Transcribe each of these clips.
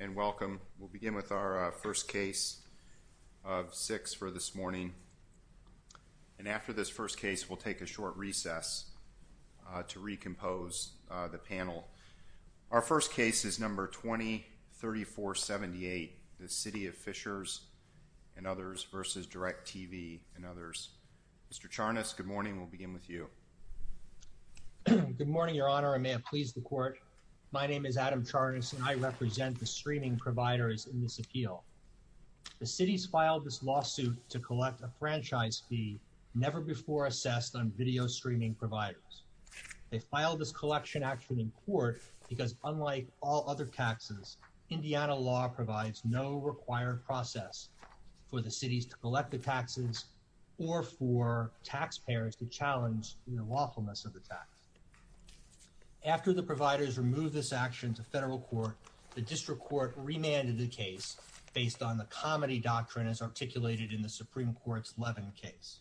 and welcome. We'll begin with our first case of six for this morning. And after this first case, we'll take a short recess to recompose the panel. Our first case is number 20-3478, the City of Fishers and others v. DIRECTTV and others. Mr. Charnas, good morning. We'll begin with you. Good morning, Your Honor. I may have pleased the court. My name is Adam Charnas and I represent the streaming providers in this appeal. The city's filed this lawsuit to collect a franchise fee never before assessed on video streaming providers. They filed this collection action in court because unlike all other taxes, Indiana law provides no required process for the cities to collect the taxes or for taxpayers to challenge the lawfulness of the tax. After the providers removed this action to federal court, the district court remanded the case based on the comedy doctrine as articulated in the Supreme Court's Levin case.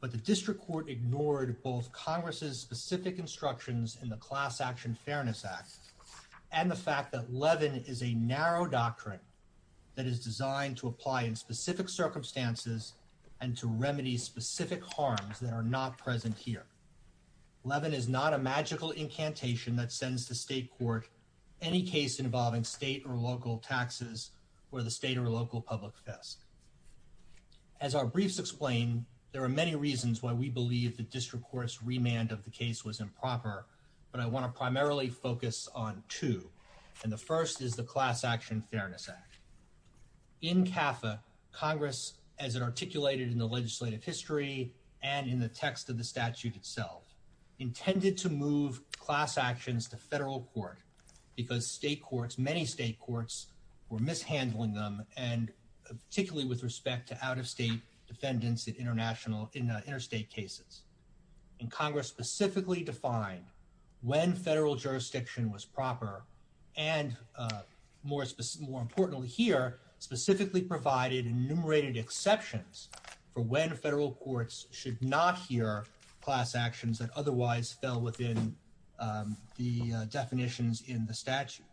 But the district court ignored both Congress's specific instructions in the Class Action Fairness Act and the fact that Levin is a narrow doctrine that is designed to apply in specific circumstances and to remedy specific harms that are not present here. Levin is not a magical incantation that sends the state court any case involving state or local taxes or the state or local public fisc. As our briefs explain, there are many reasons why we believe the district court's remand of the case was improper, but I want to primarily focus on two, and the first is the Class Action Fairness Act. In CAFA, Congress, as it articulated in the legislative history and in the text of the statute itself, intended to move class actions to federal court because state courts, many state courts, were mishandling them and particularly with respect to out-of-state defendants in interstate cases. And Congress specifically defined when federal jurisdiction was proper and, more importantly here, specifically provided enumerated exceptions for when federal courts should not hear class actions that otherwise fell within the definitions in the statute.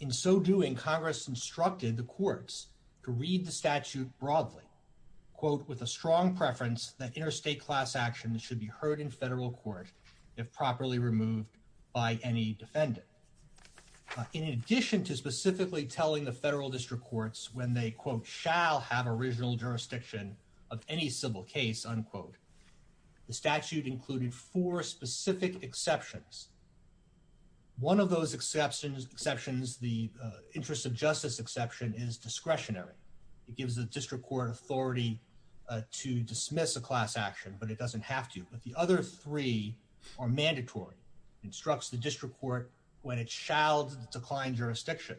In so doing, Congress instructed the courts to read the statute broadly, quote, with a strong preference that interstate class actions should be heard in federal court if properly removed by any defendant. In addition to specifically telling the federal district courts when they, quote, shall have original jurisdiction of any civil case, unquote, the statute included four specific exceptions. One of those exceptions, the interest of justice exception, is discretionary. It gives the judge the right to do so. It doesn't have to. But the other three are mandatory. It instructs the district court when it shall decline jurisdiction.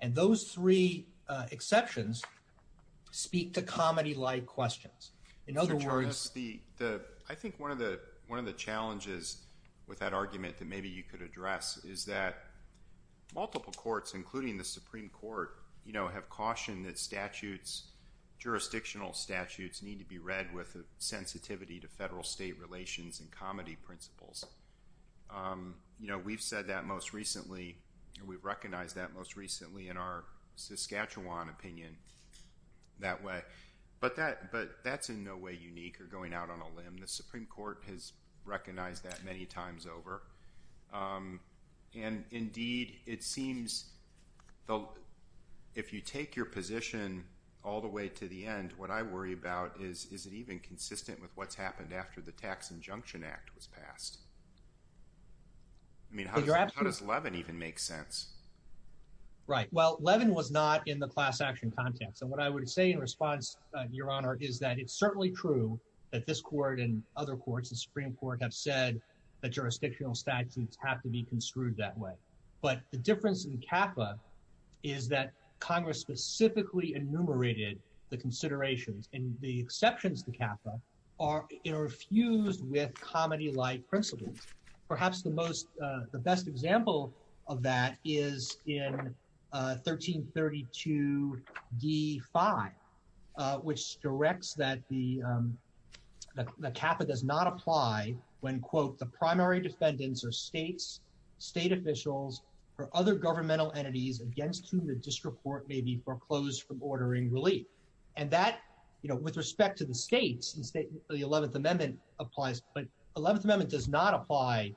And those three exceptions speak to comedy-like questions. In other words, the, I think one of the challenges with that argument that maybe you could address is that multiple courts, including the Supreme Court, you know, have cautioned that statutes, jurisdictional statutes, need to be read with a sensitivity to federal-state relations and comedy principles. You know, we've said that most recently, and we've recognized that most recently in our Saskatchewan opinion that way. But that's in no way unique or going out on a limb. The Supreme Court has recognized that many times over. And indeed, it seems if you take your position all the way to the end, what I worry about is, is it even consistent with what's happened after the Tax Injunction Act was passed? I mean, how does Levin even make sense? Right. Well, Levin was not in the class action context. And what I would say in response, Your Honor, is that it's certainly true that this court and other courts, the Supreme Court, have said that jurisdictional statutes have to be construed that way. But the difference in CAFA is that Congress specifically enumerated the considerations and the exceptions to CAFA are, you know, fused with comedy-like principles. Perhaps the most, the best example of that is in 1332d5, which directs that the CAFA does not apply when, quote, the primary defendants are states, state officials, or other governmental entities against whom the district court may be foreclosed from ordering relief. And that, you know, with respect to the states, the 11th Amendment applies, but the 11th Amendment does not apply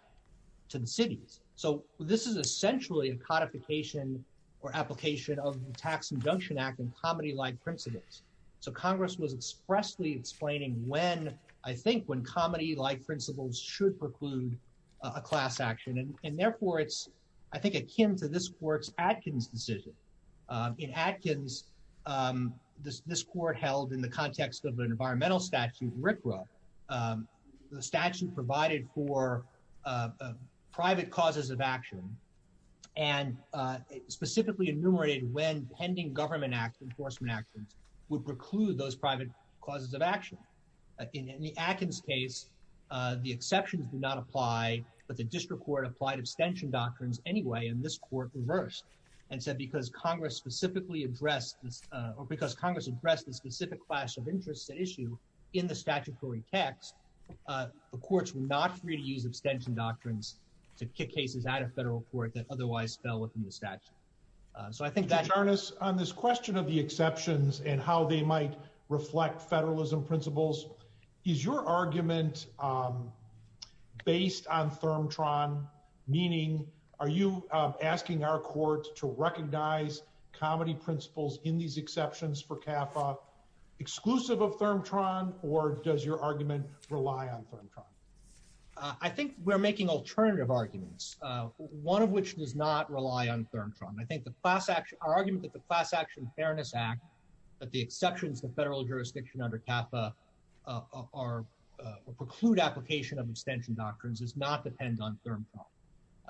to the cities. So this is essentially a codification or application of the Tax Injunction Act and comedy-like principles. So Congress was expressly explaining when, I think, when comedy-like principles should preclude a class action. And therefore it's, I think, akin to this court's Atkins decision. In Atkins, this court held in the context of an environmental statute, RCRA, the statute provided for private causes of action and specifically enumerated when pending government act, enforcement actions, would preclude those private causes of action. In the Atkins case, the exceptions do not apply, but the district court applied abstention doctrines anyway and this court reversed and said because Congress specifically addressed this, or because Congress addressed the specific class of interest at issue in the statutory text, the courts were not free to use abstention doctrines to kick cases out of federal court that otherwise fell within the statute. So I think that... Mr. Tarnas, on this question of the exceptions and how they might I think we're making alternative arguments, one of which does not rely on ThermTron. I think the class action, our argument that the Class Action Fairness Act, that the exceptions to federal jurisdiction under CAFA preclude application of abstention doctrines does not depend on ThermTron.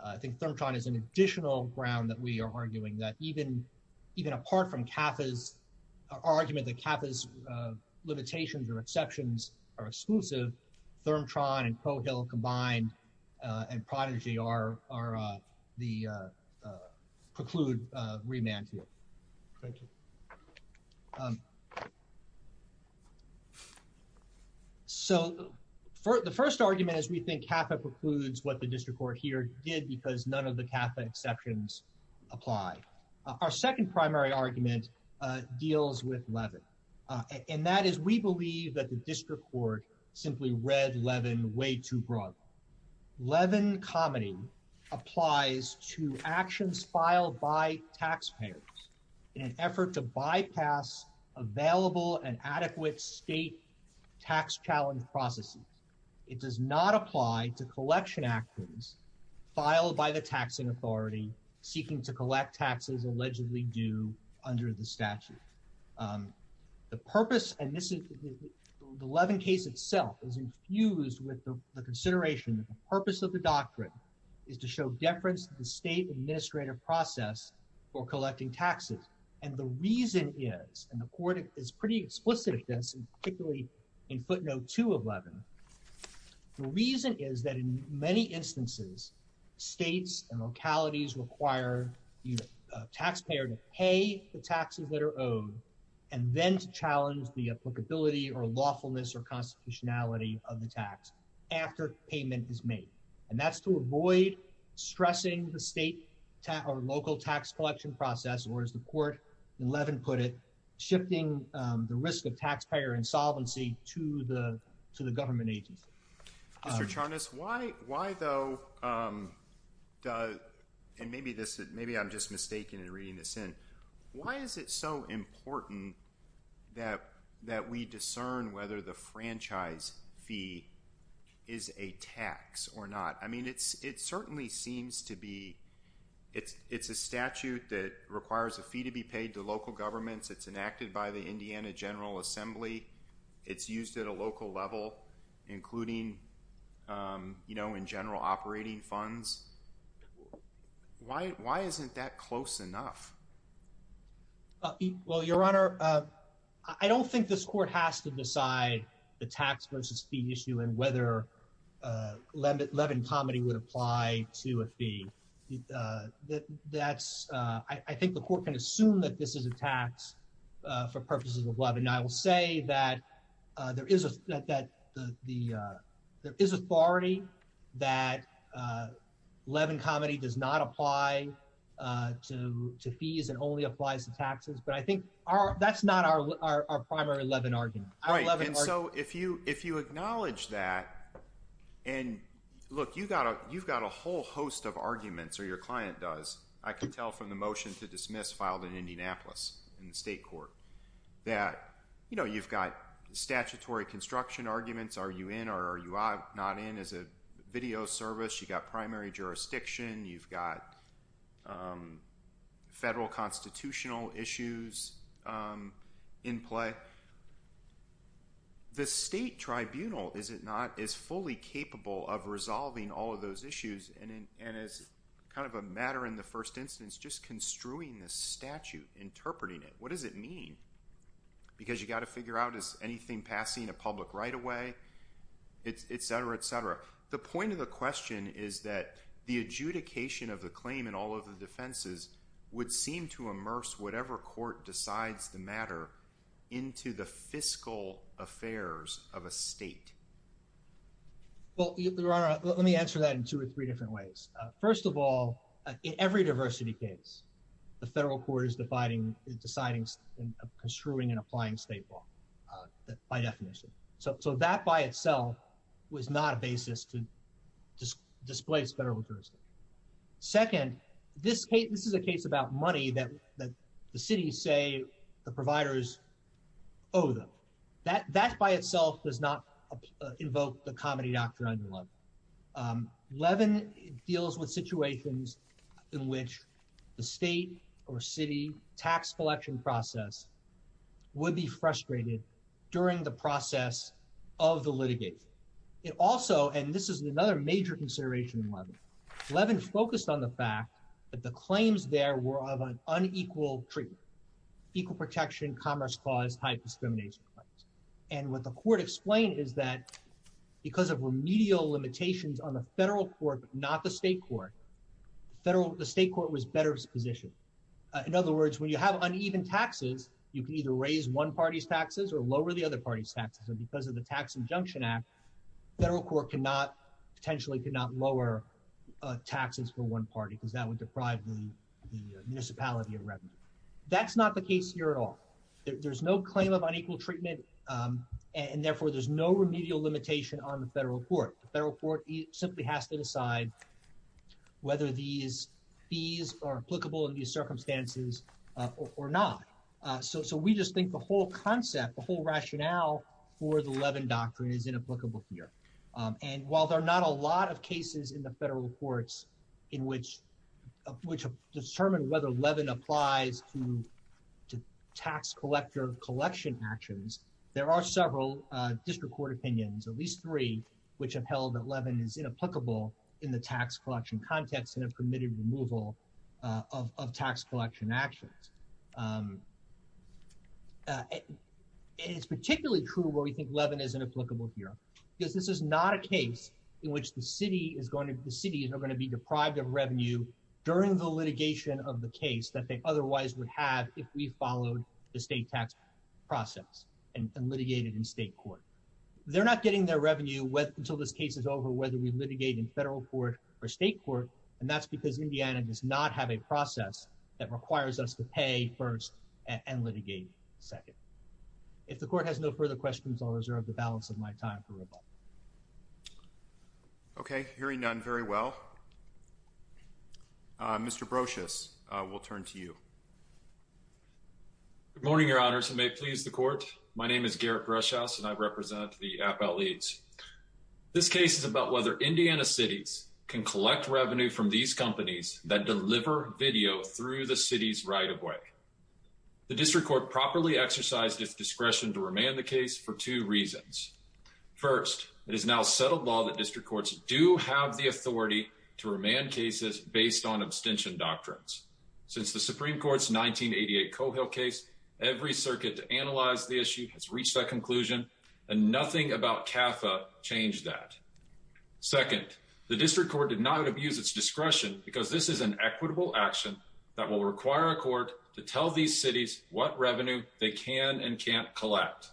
I think ThermTron is an additional ground that we are arguing that even apart from CAFA's argument that CAFA's limitations or exceptions are exclusive, ThermTron and Prohill combined and Prodigy are the preclude remand to it. So the first argument is we think CAFA precludes what the district court here did because none of the CAFA exceptions apply. Our second primary argument deals with Levin, and that is we believe that the district court simply read Levin way too broadly. Levin comedy applies to actions filed by taxpayers in an effort to bypass available and filed by the taxing authority seeking to collect taxes allegedly due under the statute. The purpose and this is the Levin case itself is infused with the consideration that the purpose of the doctrine is to show deference to the state administrative process for collecting taxes, and the reason is, and the court is pretty explicit at this, particularly in footnote 2 of Levin, the reason is that in many instances states and localities require the taxpayer to pay the taxes that are owed and then to challenge the applicability or lawfulness or constitutionality of the tax after payment is made, and that's to avoid stressing the state or local tax collection process or as the court in Levin put it, shifting the risk of taxpayer insolvency to the to the government agency. Mr. Charnas, why though, and maybe I'm just mistaken in reading this in, why is it so important that we discern whether the franchise fee is a tax or not? I mean it certainly seems to be, it's a statute that requires a fee to be paid to local governments, it's enacted by the Indiana General Assembly, it's used at a local level including, you know, in general operating funds. Why isn't that close enough? Well, your honor, I don't think this court has to decide the tax versus fee issue and whether Levin comedy would apply to a fee. That's, I think the court can assume that this is a tax for purposes of Levin. I will say that there is a, that the, there is authority that Levin comedy does not apply to fees and only applies to taxes, but I think that's not our primary Levin argument. Right, and so if you acknowledge that, and look, you've got a whole host of arguments, or your client does, I can tell from the motion to dismiss filed in Indianapolis in the state court, that, you know, you've got statutory construction arguments, are you in or are you not in as a video service, you've got primary jurisdiction, you've got federal constitutional issues in play. The state tribunal, is it not, is fully capable of resolving all of those issues, and as kind of a matter in the first instance, just construing this statute, interpreting it, what does it mean? Because you've got to figure out is anything passing a public right of way, et cetera, et cetera. The point of the question is that the adjudication of the claim in all of the defenses would seem to immerse whatever court decides the matter into the fiscal affairs of a state. Well, let me answer that in two or three different ways. First of all, in every diversity case, the federal court is deciding and construing and applying state law by definition. So that by itself was not a basis to display its federal jurisdiction. Second, this case, this is a case about money that the cities say the providers owe them. That by itself does not invoke the comedy doctrine. Levin deals with situations in which the state or city tax collection process would be frustrated during the process of the litigation. It also, and this is another major consideration in Levin, Levin focused on the fact that the claims there were of an unequal treatment, equal protection, commerce clause, high discrimination claims. And what the court explained is that because of remedial limitations on the federal court, not the state court, the state court was better positioned. In other words, when you have uneven taxes, you can either raise one party's taxes or lower the other party's taxes. And because of the tax injunction act, federal court could not, potentially could not lower taxes for one party because that would deprive the municipality of revenue. That's not the case here at all. There's no claim of unequal treatment. And therefore there's no remedial limitation on the federal court. The federal court simply has to decide whether these fees are applicable in these circumstances or not. So, so we just think the whole concept, the whole rationale for the Levin doctrine is inapplicable here. And while there are not a lot of cases in the federal courts in which, which have determined whether Levin applies to, to tax collector collection actions, there are several district court opinions, at least three, which have held that Levin is inapplicable in the tax collection context and have permitted removal of tax collection actions. It's particularly true where we think Levin is inapplicable here because this is not a case in which the city is going to, the city is not going to be deprived of revenue during the litigation of the case that they otherwise would have if we followed the state tax process and litigated in state court. They're not getting their revenue until this case is over, whether we litigate in federal court or state court. And that's because Indiana does not have a process that requires us to pay first and litigate second. If the court has no further questions, I'll reserve the balance of my time for rebuttal. Okay. Hearing none, very well. Mr. Brocious, we'll turn to you. Good morning, your honors, and may it please the court. My name is Garrett Brocious, and I represent the Appellate Leads. This case is about whether Indiana cities can collect revenue from these companies that deliver video through the city's right-of-way. The district court properly exercised its discretion to remand the case for two reasons. First, it is now settled law that district courts do have the authority to remand cases based on conclusion, and nothing about CAFA changed that. Second, the district court did not abuse its discretion because this is an equitable action that will require a court to tell these cities what revenue they can and can't collect.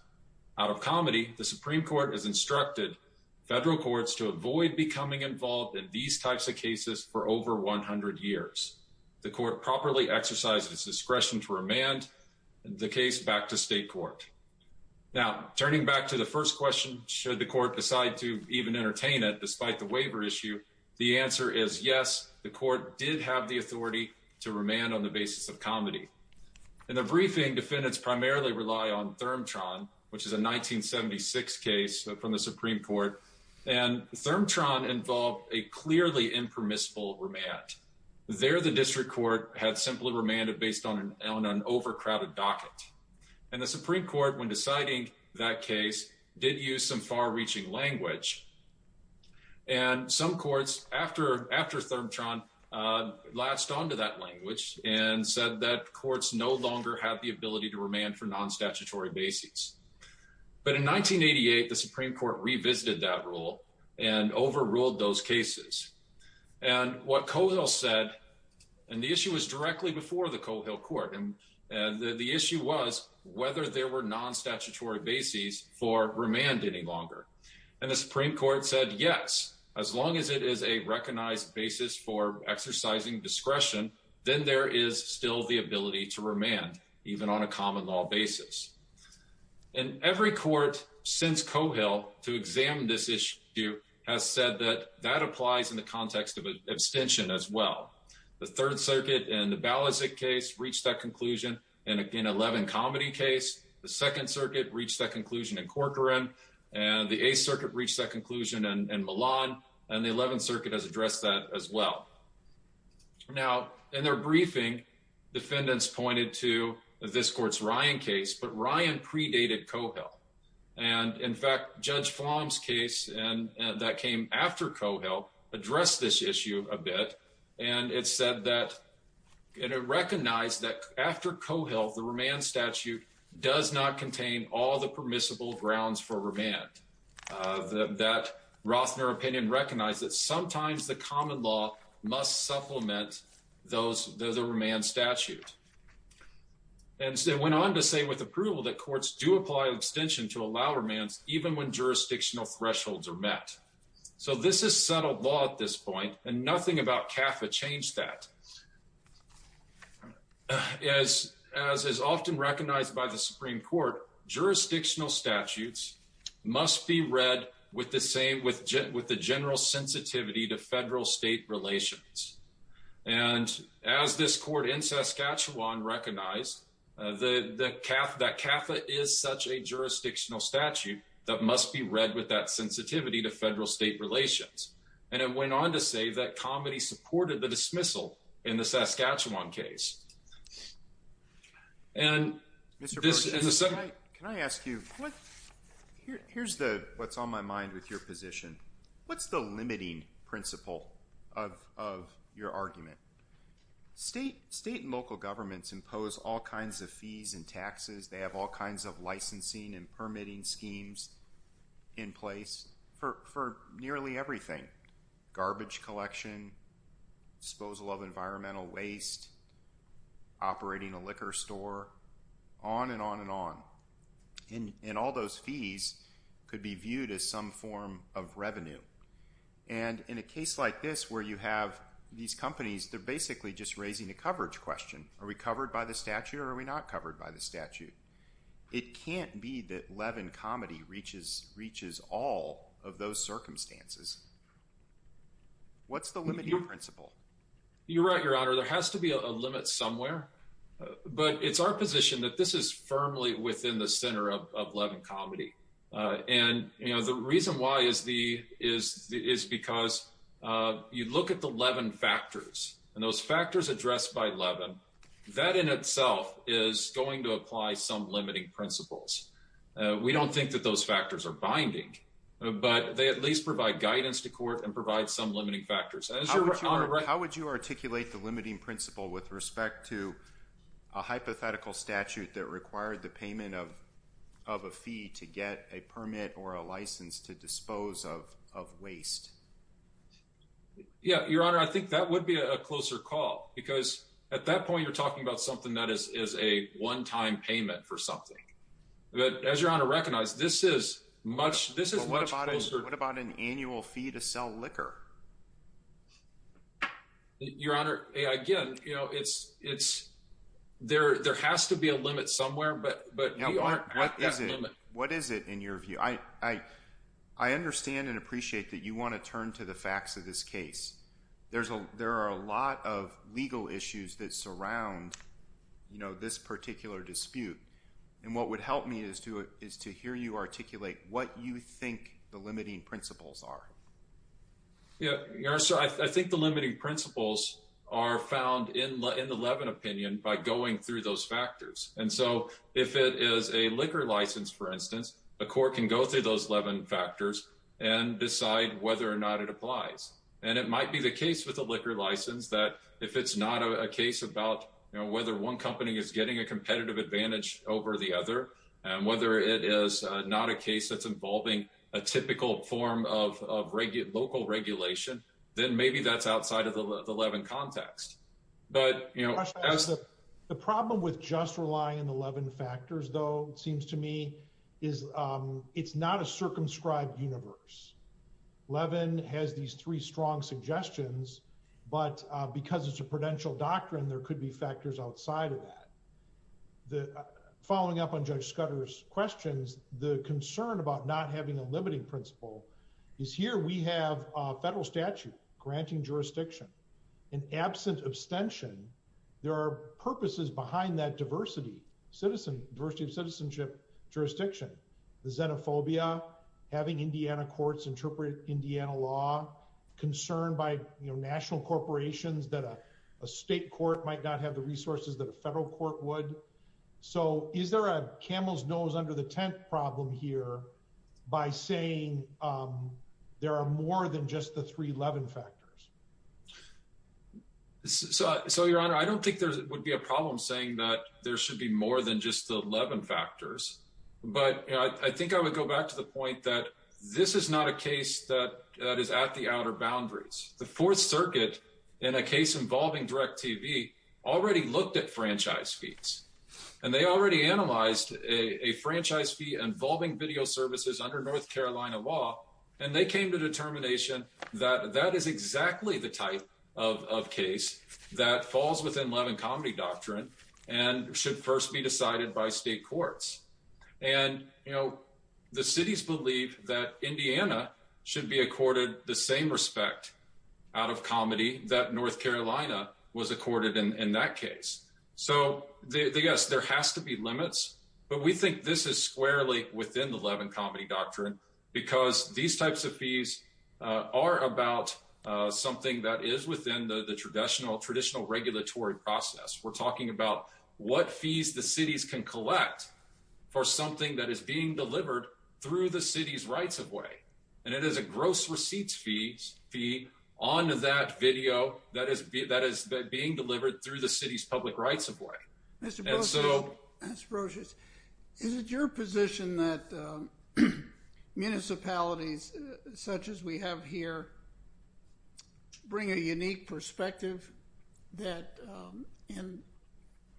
Out of comedy, the Supreme Court has instructed federal courts to avoid becoming involved in these types of cases for over 100 years. The court properly exercised its discretion to remand the case back to state court. Now, turning back to the first question, should the court decide to even entertain it despite the waiver issue, the answer is yes, the court did have the authority to remand on the basis of comedy. In the briefing, defendants primarily rely on ThermTron, which is a 1976 case from the Supreme Court, and ThermTron involved a clearly impermissible remand. There, the district court had simply remanded based on an overcrowded docket. And the Supreme Court, when deciding that case, did use some far-reaching language. And some courts, after ThermTron, latched onto that language and said that courts no longer have the ability to remand for non-statutory bases. But in 1988, the Supreme Court revisited that rule and overruled those cases. And what Cohill said, and the issue was directly before the Cohill court, and the issue was whether there were non-statutory bases for remand any longer. And the Supreme Court said, yes, as long as it is a recognized basis for exercising discretion, then there is still the ability to remand, even on a common law basis. And every court since Cohill to examine this issue has said that that applies in the context of abstention as well. The Third Circuit in the Balasik case reached that conclusion in an 11 comedy case. The Second Circuit reached that conclusion in Corcoran, and the Eighth Circuit reached that conclusion in Milan, and the Eleventh Circuit has addressed that as well. Now, in their briefing, defendants pointed to this court's Ryan case, but Ryan predated Cohill. And in fact, Judge Flom's case that came after Cohill addressed this issue a bit, and it said that, and it recognized that after Cohill, the remand statute does not contain all the permissible grounds for remand. That Rothner opinion recognized that sometimes the common law must supplement those, the remand statute. And so it went on to say with approval that courts do apply abstention to allow remands even when jurisdictional thresholds are met. So this is settled law at this point, and nothing about CAFA changed that. As is often recognized by the Supreme Court, jurisdictional statutes must be read with the same, with the general sensitivity to federal state relations. And as this court in Saskatchewan recognized that CAFA is such a jurisdictional statute that must be read with that sensitivity to federal state relations. And it went on to say that Comedy supported the dismissal in the Saskatchewan case. And this is a separate- Can I ask you, here's what's on my mind with your position. What's the limiting principle of your argument? State and local governments impose all kinds of fees and taxes. They have kinds of licensing and permitting schemes in place for nearly everything. Garbage collection, disposal of environmental waste, operating a liquor store, on and on and on. And all those fees could be viewed as some form of revenue. And in a case like this where you have these companies, they're basically just raising a coverage question. Are we covered by the statute or are we not covered by the statute? It can't be that Levin Comedy reaches all of those circumstances. What's the limiting principle? You're right, Your Honor. There has to be a limit somewhere. But it's our position that this is firmly within the center of Levin Comedy. And, you know, the reason why is because you look at the Levin factors and those factors addressed by Levin, that in itself is going to apply some limiting principles. We don't think that those factors are binding, but they at least provide guidance to court and provide some limiting factors. How would you articulate the limiting principle with respect to a hypothetical statute that required the payment of a fee to get a permit or a license to dispose of waste? Yeah, Your Honor, I think that would be a closer call because at that point you're talking about something that is a one-time payment for something. But as Your Honor recognized, this is much closer. What about an annual fee to sell liquor? Your Honor, again, you know, there has to be a limit somewhere, but we aren't at that limit. What is it in your view? I understand and appreciate that you want to turn to the facts of this case. There are a lot of legal issues that surround, you know, this particular dispute. And what would help me is to hear you articulate what you think the limiting principles are. Yeah, Your Honor, so I think the limiting principles are found in the Levin opinion by going through those factors. And so if it is a liquor license, for instance, the court can go through those Levin factors and decide whether or not it applies. And it might be the case with the liquor license that if it's not a case about, you know, whether one company is getting a competitive advantage over the other and whether it is not a case that's involving a typical form of local regulation, then maybe that's outside of the Levin context. The problem with just relying on the Levin factors, though, seems to me is it's not a circumscribed universe. Levin has these three strong suggestions, but because it's a prudential doctrine, there could be factors outside of that. Following up on Judge Scudder's questions, the concern about not having a limiting principle is here we have a federal statute granting jurisdiction. And absent abstention, there are purposes behind that diversity, diversity of citizenship jurisdiction. The xenophobia, having Indiana courts interpret Indiana law, concern by national corporations that a state court might not have the resources that a federal court would. So is there a camel's there are more than just the three Levin factors? So, Your Honor, I don't think there would be a problem saying that there should be more than just the Levin factors. But I think I would go back to the point that this is not a case that is at the outer boundaries. The Fourth Circuit, in a case involving DirecTV, already looked at franchise fees, and they already analyzed a franchise fee involving video services under North Carolina law. And they came to determination that that is exactly the type of case that falls within Levin comedy doctrine and should first be decided by state courts. And, you know, the cities believe that Indiana should be accorded the same respect out of comedy that North Carolina was accorded in that case. So, yes, there has to be limits. But we think this is squarely within the Levin comedy doctrine because these types of fees are about something that is within the traditional regulatory process. We're talking about what fees the cities can collect for something that is being delivered through the city's rights-of-way. And it is a gross receipts fee on that video that is being delivered through the city's public rights-of-way. Mr. Brosius, is it your position that municipalities such as we have here bring a unique perspective that, and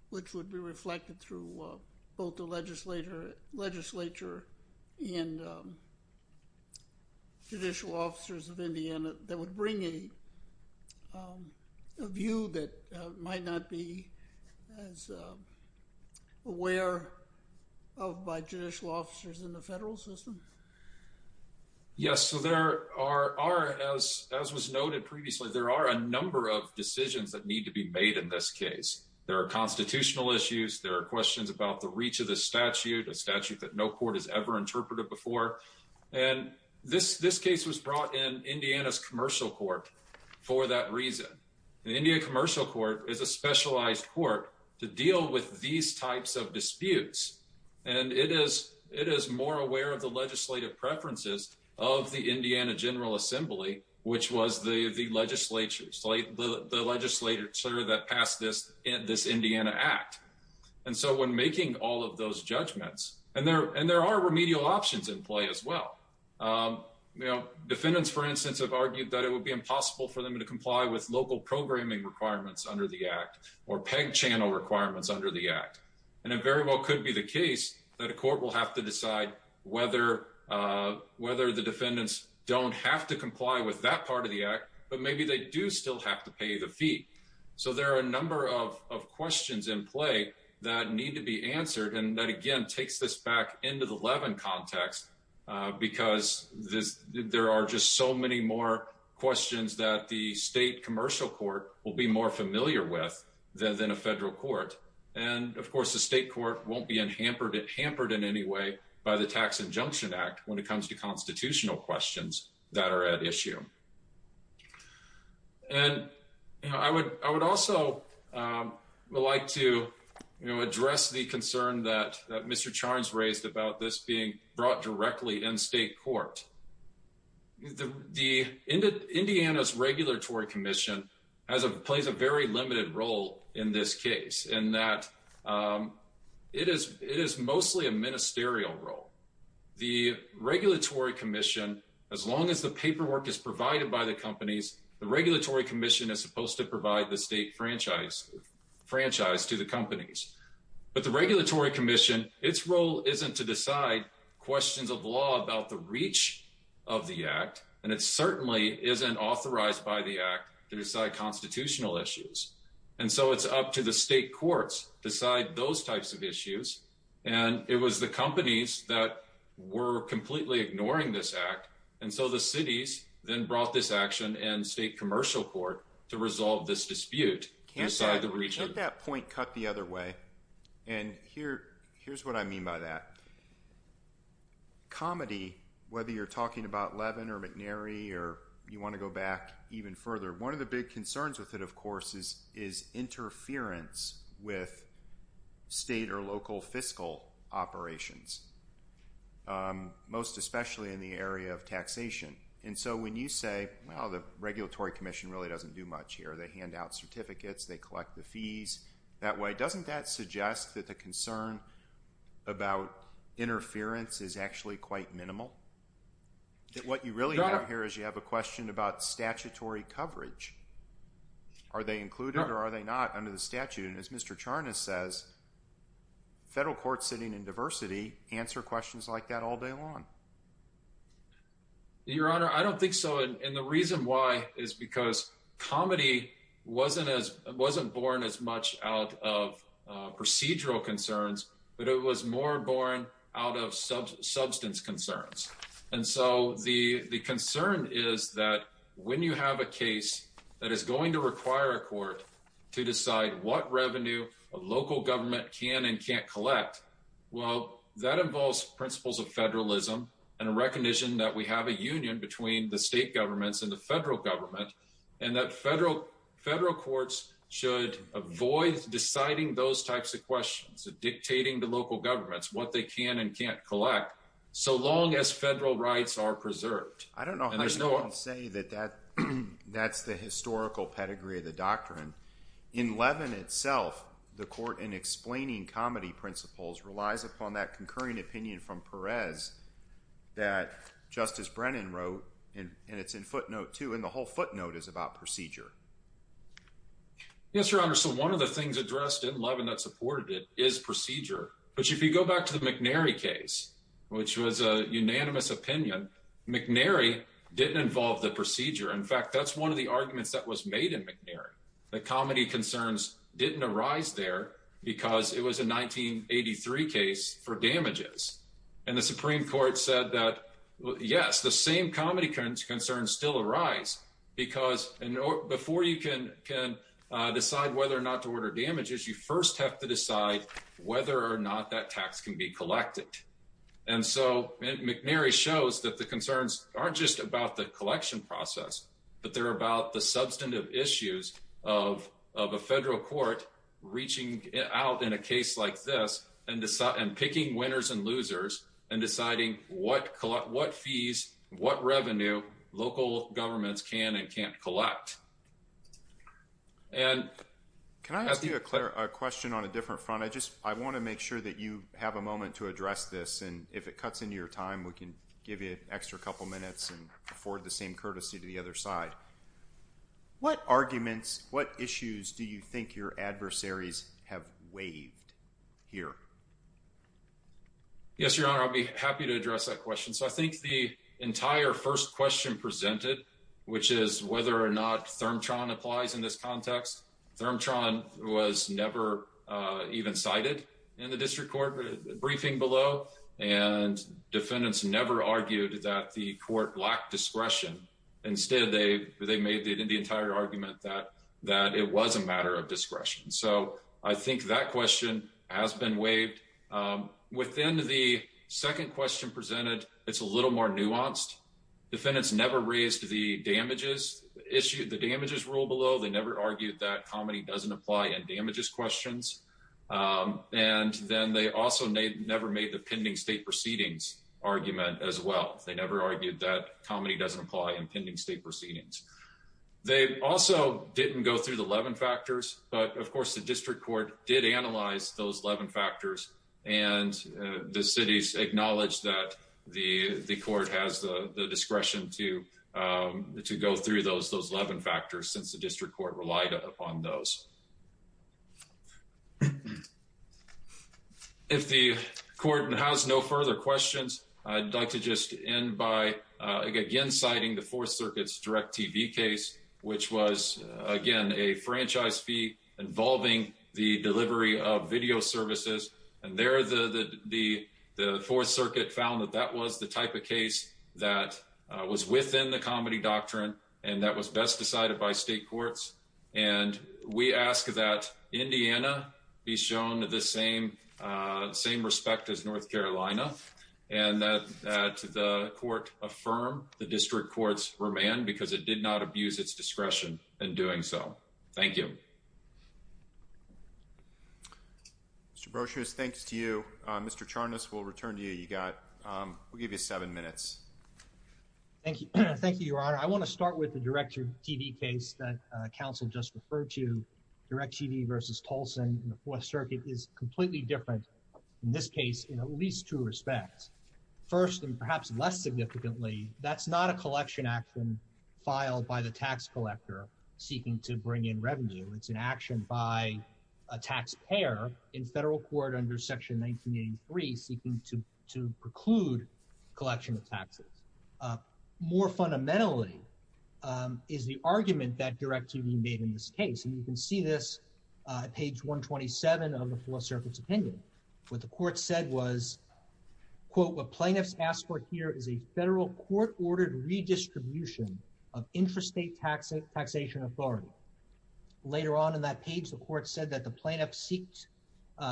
which would be reflected through both the legislature and the judicial officers of Indiana, that would bring a view that might not be as aware of by judicial officers in the federal system? Yes, so there are, as was noted previously, there are a number of decisions that need to be made in this case. There are constitutional issues. There are questions about the reach of the statute, a statute that no court has ever interpreted before. And this case was brought in Indiana's commercial court for that reason. The Indiana commercial court is a specialized court to deal with these types of disputes. And it is more aware of the legislative preferences of the Indiana General Assembly, which was the legislature that passed this Indiana Act. And so when making all of those judgments, and there are remedial options in play as well. Defendants, for instance, have argued that it would be impossible for them to comply with local programming requirements under the Act, or peg channel requirements under the Act. And it very well could be the case that a court will have to decide whether the defendants don't have to comply with that part of the Act, but maybe they do still have to pay the fee. So there are a number of questions in play that need to be answered. And that again, takes this back into the Levin context, because there are just so many more questions that the state commercial court will be more familiar with than a federal court. And of course, the state court won't be hampered in any way by the Tax Injunction Act when it comes to constitutional questions that are at issue. And I would also like to address the concern that Mr. Charns raised about this being brought directly in state court. The Indiana's Regulatory Commission plays a very limited role in this case, in that it is mostly a ministerial role. The Regulatory Commission, as long as the paperwork is provided by the companies, the Regulatory Commission is supposed to provide the state franchise to the companies. But the Regulatory Commission, its role isn't to decide questions of law about the reach of the Act, and it certainly isn't authorized by the Act to decide constitutional issues. And so it's up to the state courts to decide those types of issues. And it was the companies that were completely ignoring this Act. And so the cities then brought this action in state commercial court to resolve this dispute inside the region. Let that point cut the other way. And here's what I mean by that. Comedy, whether you're talking about Levin or McNary, or you want to go back even further, one of the big concerns with it, of course, is interference with state or local fiscal operations, most especially in the area of taxation. And so when you say, well, the Regulatory Commission really doesn't do much here. They hand out certificates. They collect the fees that way. Doesn't that suggest that the concern about interference is actually quite minimal? What you really have here is you have a question about statutory coverage. Are they included or are they not under the statute? And as Mr. Charnas says, federal courts sitting in diversity answer questions like that all day long. Your Honor, I don't think so. And the reason why is because comedy wasn't born as much out of procedural concerns, but it was more born out of substance concerns. And so the concern is that when you have a case that is going to require a court to decide what revenue a local government can and can't collect, well, that involves principles of federalism and a recognition that we have a union between the state governments and the federal government, and that federal courts should avoid deciding those types of questions, dictating to local governments what they can and can't collect, so long as federal rights are preserved. I don't know how you can say that that's the historical pedigree of the doctrine. In Levin itself, the court in explaining comedy principles relies upon that concurring opinion from Perez that Justice Brennan wrote, and it's in footnote two, and the whole footnote is about procedure. Yes, Your Honor. So one of the things addressed in Levin that supported it is procedure. But if you go back to the McNary case, which was a unanimous opinion, McNary didn't involve the procedure. In fact, that's one of the arguments that was made in McNary, that the comedy concerns didn't arise there because it was a 1983 case for damages. And the Supreme Court said that, yes, the same comedy concerns still arise, because before you can decide whether or not to order damages, you first have to decide whether or not that tax can be collected. And so McNary shows that the concerns aren't just about the collection process, but they're about the substantive issues of a federal court reaching out in a case like this and picking winners and losers and deciding what fees, what revenue local governments can and can't collect. Can I ask you a question on a different front? I want to make sure that you have a moment to address this, and if it cuts into your time, we can give you an extra couple minutes and afford the same courtesy to the other side. What arguments, what issues do you think your adversaries have waived here? Yes, Your Honor, I'll be happy to address that question. So I think the entire first question presented, which is whether or not ThermTron applies in this context. ThermTron was never even cited in the district court briefing below, and defendants never argued that the court lacked discretion. Instead, they made the entire argument that it was a matter of discretion. So I think that question has been waived. Within the second question presented, it's a little more nuanced. Defendants never raised the damages issue, the damages rule below. They never argued that comedy doesn't apply in damages questions. And then they also never made the pending state proceedings argument as well. They never argued that comedy doesn't apply in pending state proceedings. They also didn't go through the Levin factors, but of course, the district court did analyze those Levin factors, and the city's acknowledged that the court has the discretion to go through those Levin factors since the district court relied upon those. If the court has no further questions, I'd like to just end by again citing the Fourth Circuit's DIRECTV case, which was, again, a franchise fee involving the delivery of video services. And there, the Fourth Circuit found that that was the type of case that was within the comedy doctrine, and that was best decided by state courts. And we ask that Indiana be shown the same respect as North Carolina, and that the court affirm the district court's remand because it did not abuse its discretion in doing so. Thank you. Mr. Brosius, thanks to you. Mr. Charnas, we'll return to you. You got, we'll give you seven minutes. Thank you. Thank you, Your Honor. I want to start with the DIRECTV case that counsel just referred to. DIRECTV versus Tolson in the Fourth Circuit is completely different in this case in at least two respects. First, and perhaps less significantly, that's not a collection action filed by the tax collector seeking to bring in revenue. It's an action by a taxpayer in federal court under Section 1983 seeking to to preclude collection of taxes. More fundamentally is the argument that DIRECTV made in this case, and you can see this at page 127 of the Fourth Circuit's opinion. What the court said was, quote, what plaintiffs asked for here is a federal court-ordered redistribution of intrastate tax taxation authority. Later on in that page, the court said that the plaintiff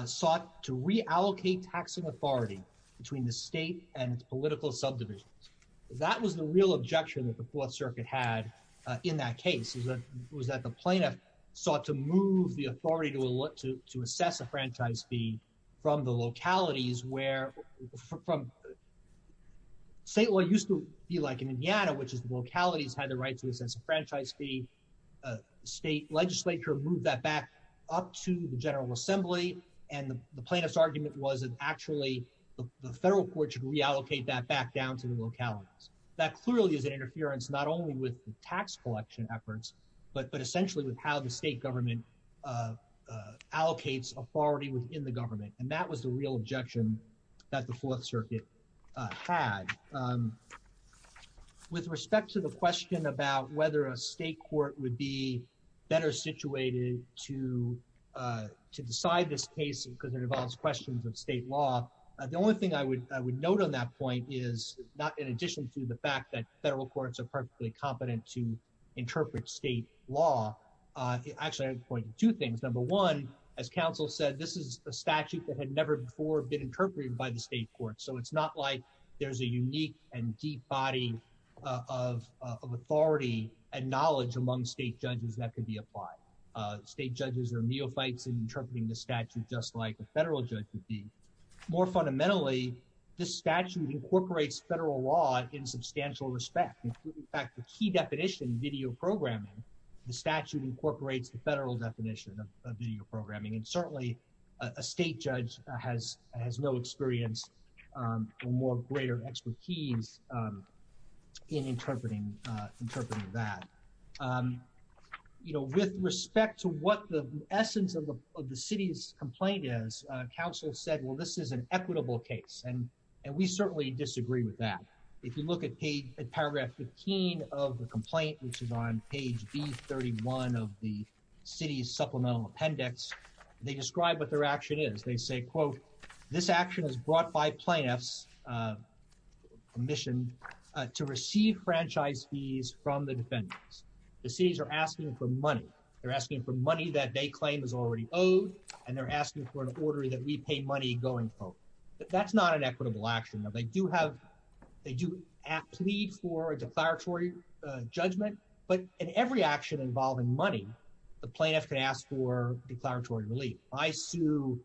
sought to reallocate taxing authority between the state and its political subdivisions. That was the real objection that the Fourth Circuit had in that case, is that was that the plaintiff sought to move the authority to assess a franchise fee from the localities where, from state law used to be like in Indiana, which is the localities had the right to assess a franchise fee. State legislature moved that back up to the General Assembly, and the plaintiff's argument was that actually the federal court should reallocate that back down to the localities. That clearly is an interference not only with the tax collection efforts, but essentially with how the state government allocates authority within the government, and that was the real objection that the Fourth Circuit had. With respect to the question about whether a state court would be better situated to decide this case because it involves questions of state law, the only thing I would note on that point is not in addition to the fact that federal courts are perfectly competent to interpret state law. Actually, I would point to two things. Number one, as counsel said, this is a statute that had never before been interpreted by the state court, so it's not like there's a unique and deep body of authority and knowledge among state judges that could be applied. State judges are neophytes in interpreting the statute just like a federal judge would be. More fundamentally, this statute incorporates federal law in substantial respect. In fact, the key definition of video programming, the statute incorporates the federal definition of video programming, and certainly a state judge has no experience or more greater expertise in interpreting that. You know, with respect to what the essence of the city's complaint is, counsel said, well, this is an equitable case, and we certainly disagree with that. If you look at paragraph 15 of the complaint, which is on page B31 of the city's supplemental appendix, they describe what their action is. They say, quote, this action is brought by plaintiffs commissioned to receive franchise fees from the defendants. The cities are asking for money. They're asking for money that they claim is already owed, and they're asking for an order that we pay money going forward. That's not an equitable action. Now, they do have, they do plead for a declaratory judgment, but in every action involving money, the plaintiff can ask for declaratory relief. I sue,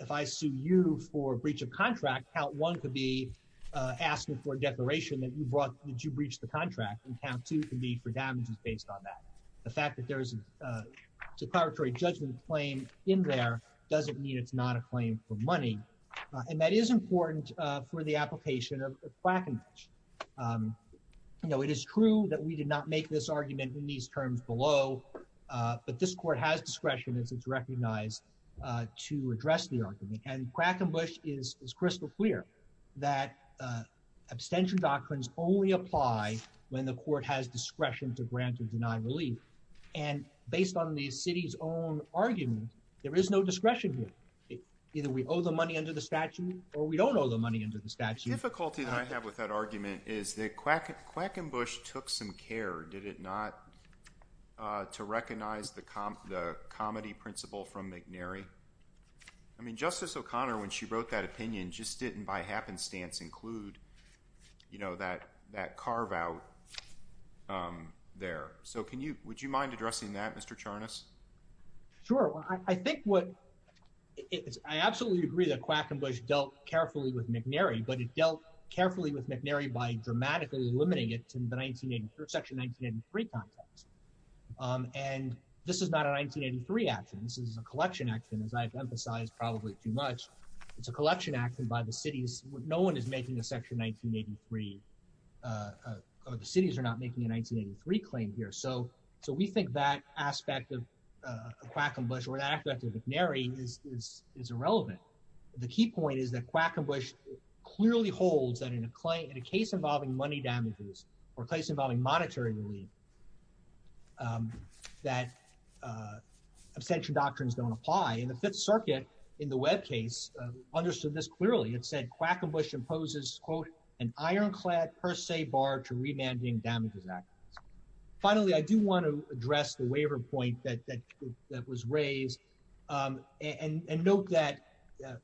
if I sue you for breach of contract, count one could be asking for a declaration that you brought, that you breached the contract, and count two can be for damages based on that. The fact that there's a declaratory judgment claim in there doesn't mean it's not a claim for money, and that is important for the application of Quackenbush. You know, it is true that we did not make this argument in these terms below, but this court has discretion as it's recognized to address the argument, and Quackenbush is crystal clear that abstention doctrines only apply when the court has discretion to grant or deny relief, and based on the city's own argument, there is no discretion here. Either we owe the money under the statute, or we don't owe the money under the statute. The difficulty that I have with that argument is that Quackenbush took some care, did it not, to recognize the comedy principle from McNary. I mean, Justice O'Connor, when she wrote that opinion, just didn't by happenstance include, you know, that carve out there. So can you, would you mind addressing that, Mr. Charnas? Sure. I think what, I absolutely agree that Quackenbush dealt carefully with McNary, but it dealt carefully with McNary by dramatically limiting it to the section 1983 context, and this is not a 1983 action. This is a collection action, as I've emphasized probably too much. It's a collection action by the cities. No one is making a section 1983, or the cities are making a 1983 claim here. So we think that aspect of Quackenbush, or that aspect of McNary, is irrelevant. The key point is that Quackenbush clearly holds that in a case involving money damages, or a case involving monetary relief, that abstention doctrines don't apply. And the Fifth Circuit, in the Webb case, understood this clearly. It said Quackenbush imposes, quote, an ironclad per se bar to remanding damages act. Finally, I do want to address the waiver point that was raised, and note that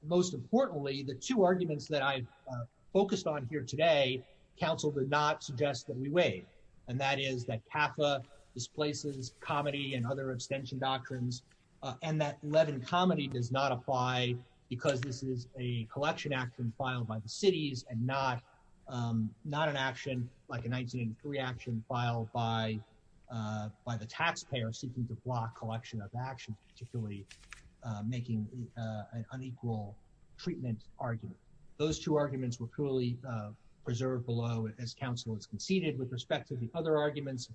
most importantly, the two arguments that I've focused on here today, counsel did not suggest that we waive, and that is that CAFA displaces comedy and other abstention doctrines, and that Levin comedy does not apply because this is a collection action filed by the cities, and not an action like a 1983 action filed by the taxpayer seeking to block collection of actions, particularly making an unequal treatment argument. Those two arguments were clearly preserved below as counsel has conceded with respect to the other arguments.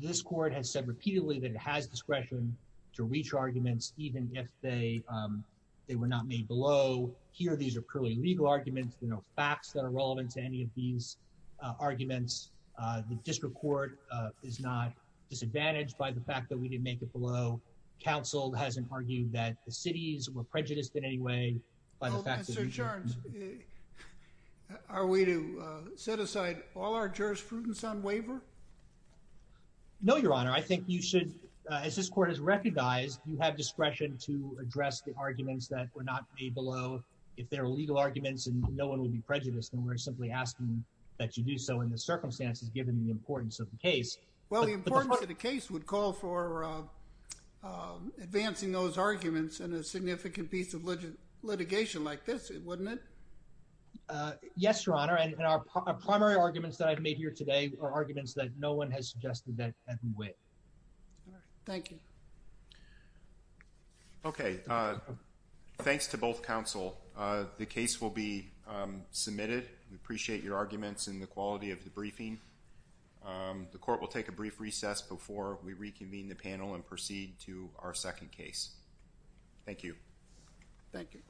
This court has said repeatedly that it has discretion to reach arguments even if they were not made below. Here, these are purely legal arguments. There are no facts that are relevant to any of these arguments. The district court is not disadvantaged by the fact that we didn't make it below. Counsel hasn't argued that the cities were prejudiced in any way by the fact that we did. Oh, Mr. Jones, are we to set aside all our jurisprudence on waiver? No, your honor. I think you should, as this court has recognized, you have discretion to make arguments that were not made below. If they're legal arguments and no one would be prejudiced, then we're simply asking that you do so in the circumstances given the importance of the case. Well, the importance of the case would call for advancing those arguments in a significant piece of litigation like this, wouldn't it? Yes, your honor, and our primary arguments that I've made here today are arguments that no one has suggested that have been waived. All right, thank you. Okay, thanks to both counsel. The case will be submitted. We appreciate your arguments and the quality of the briefing. The court will take a brief recess before we reconvene the panel and proceed to our second case. Thank you. Thank you.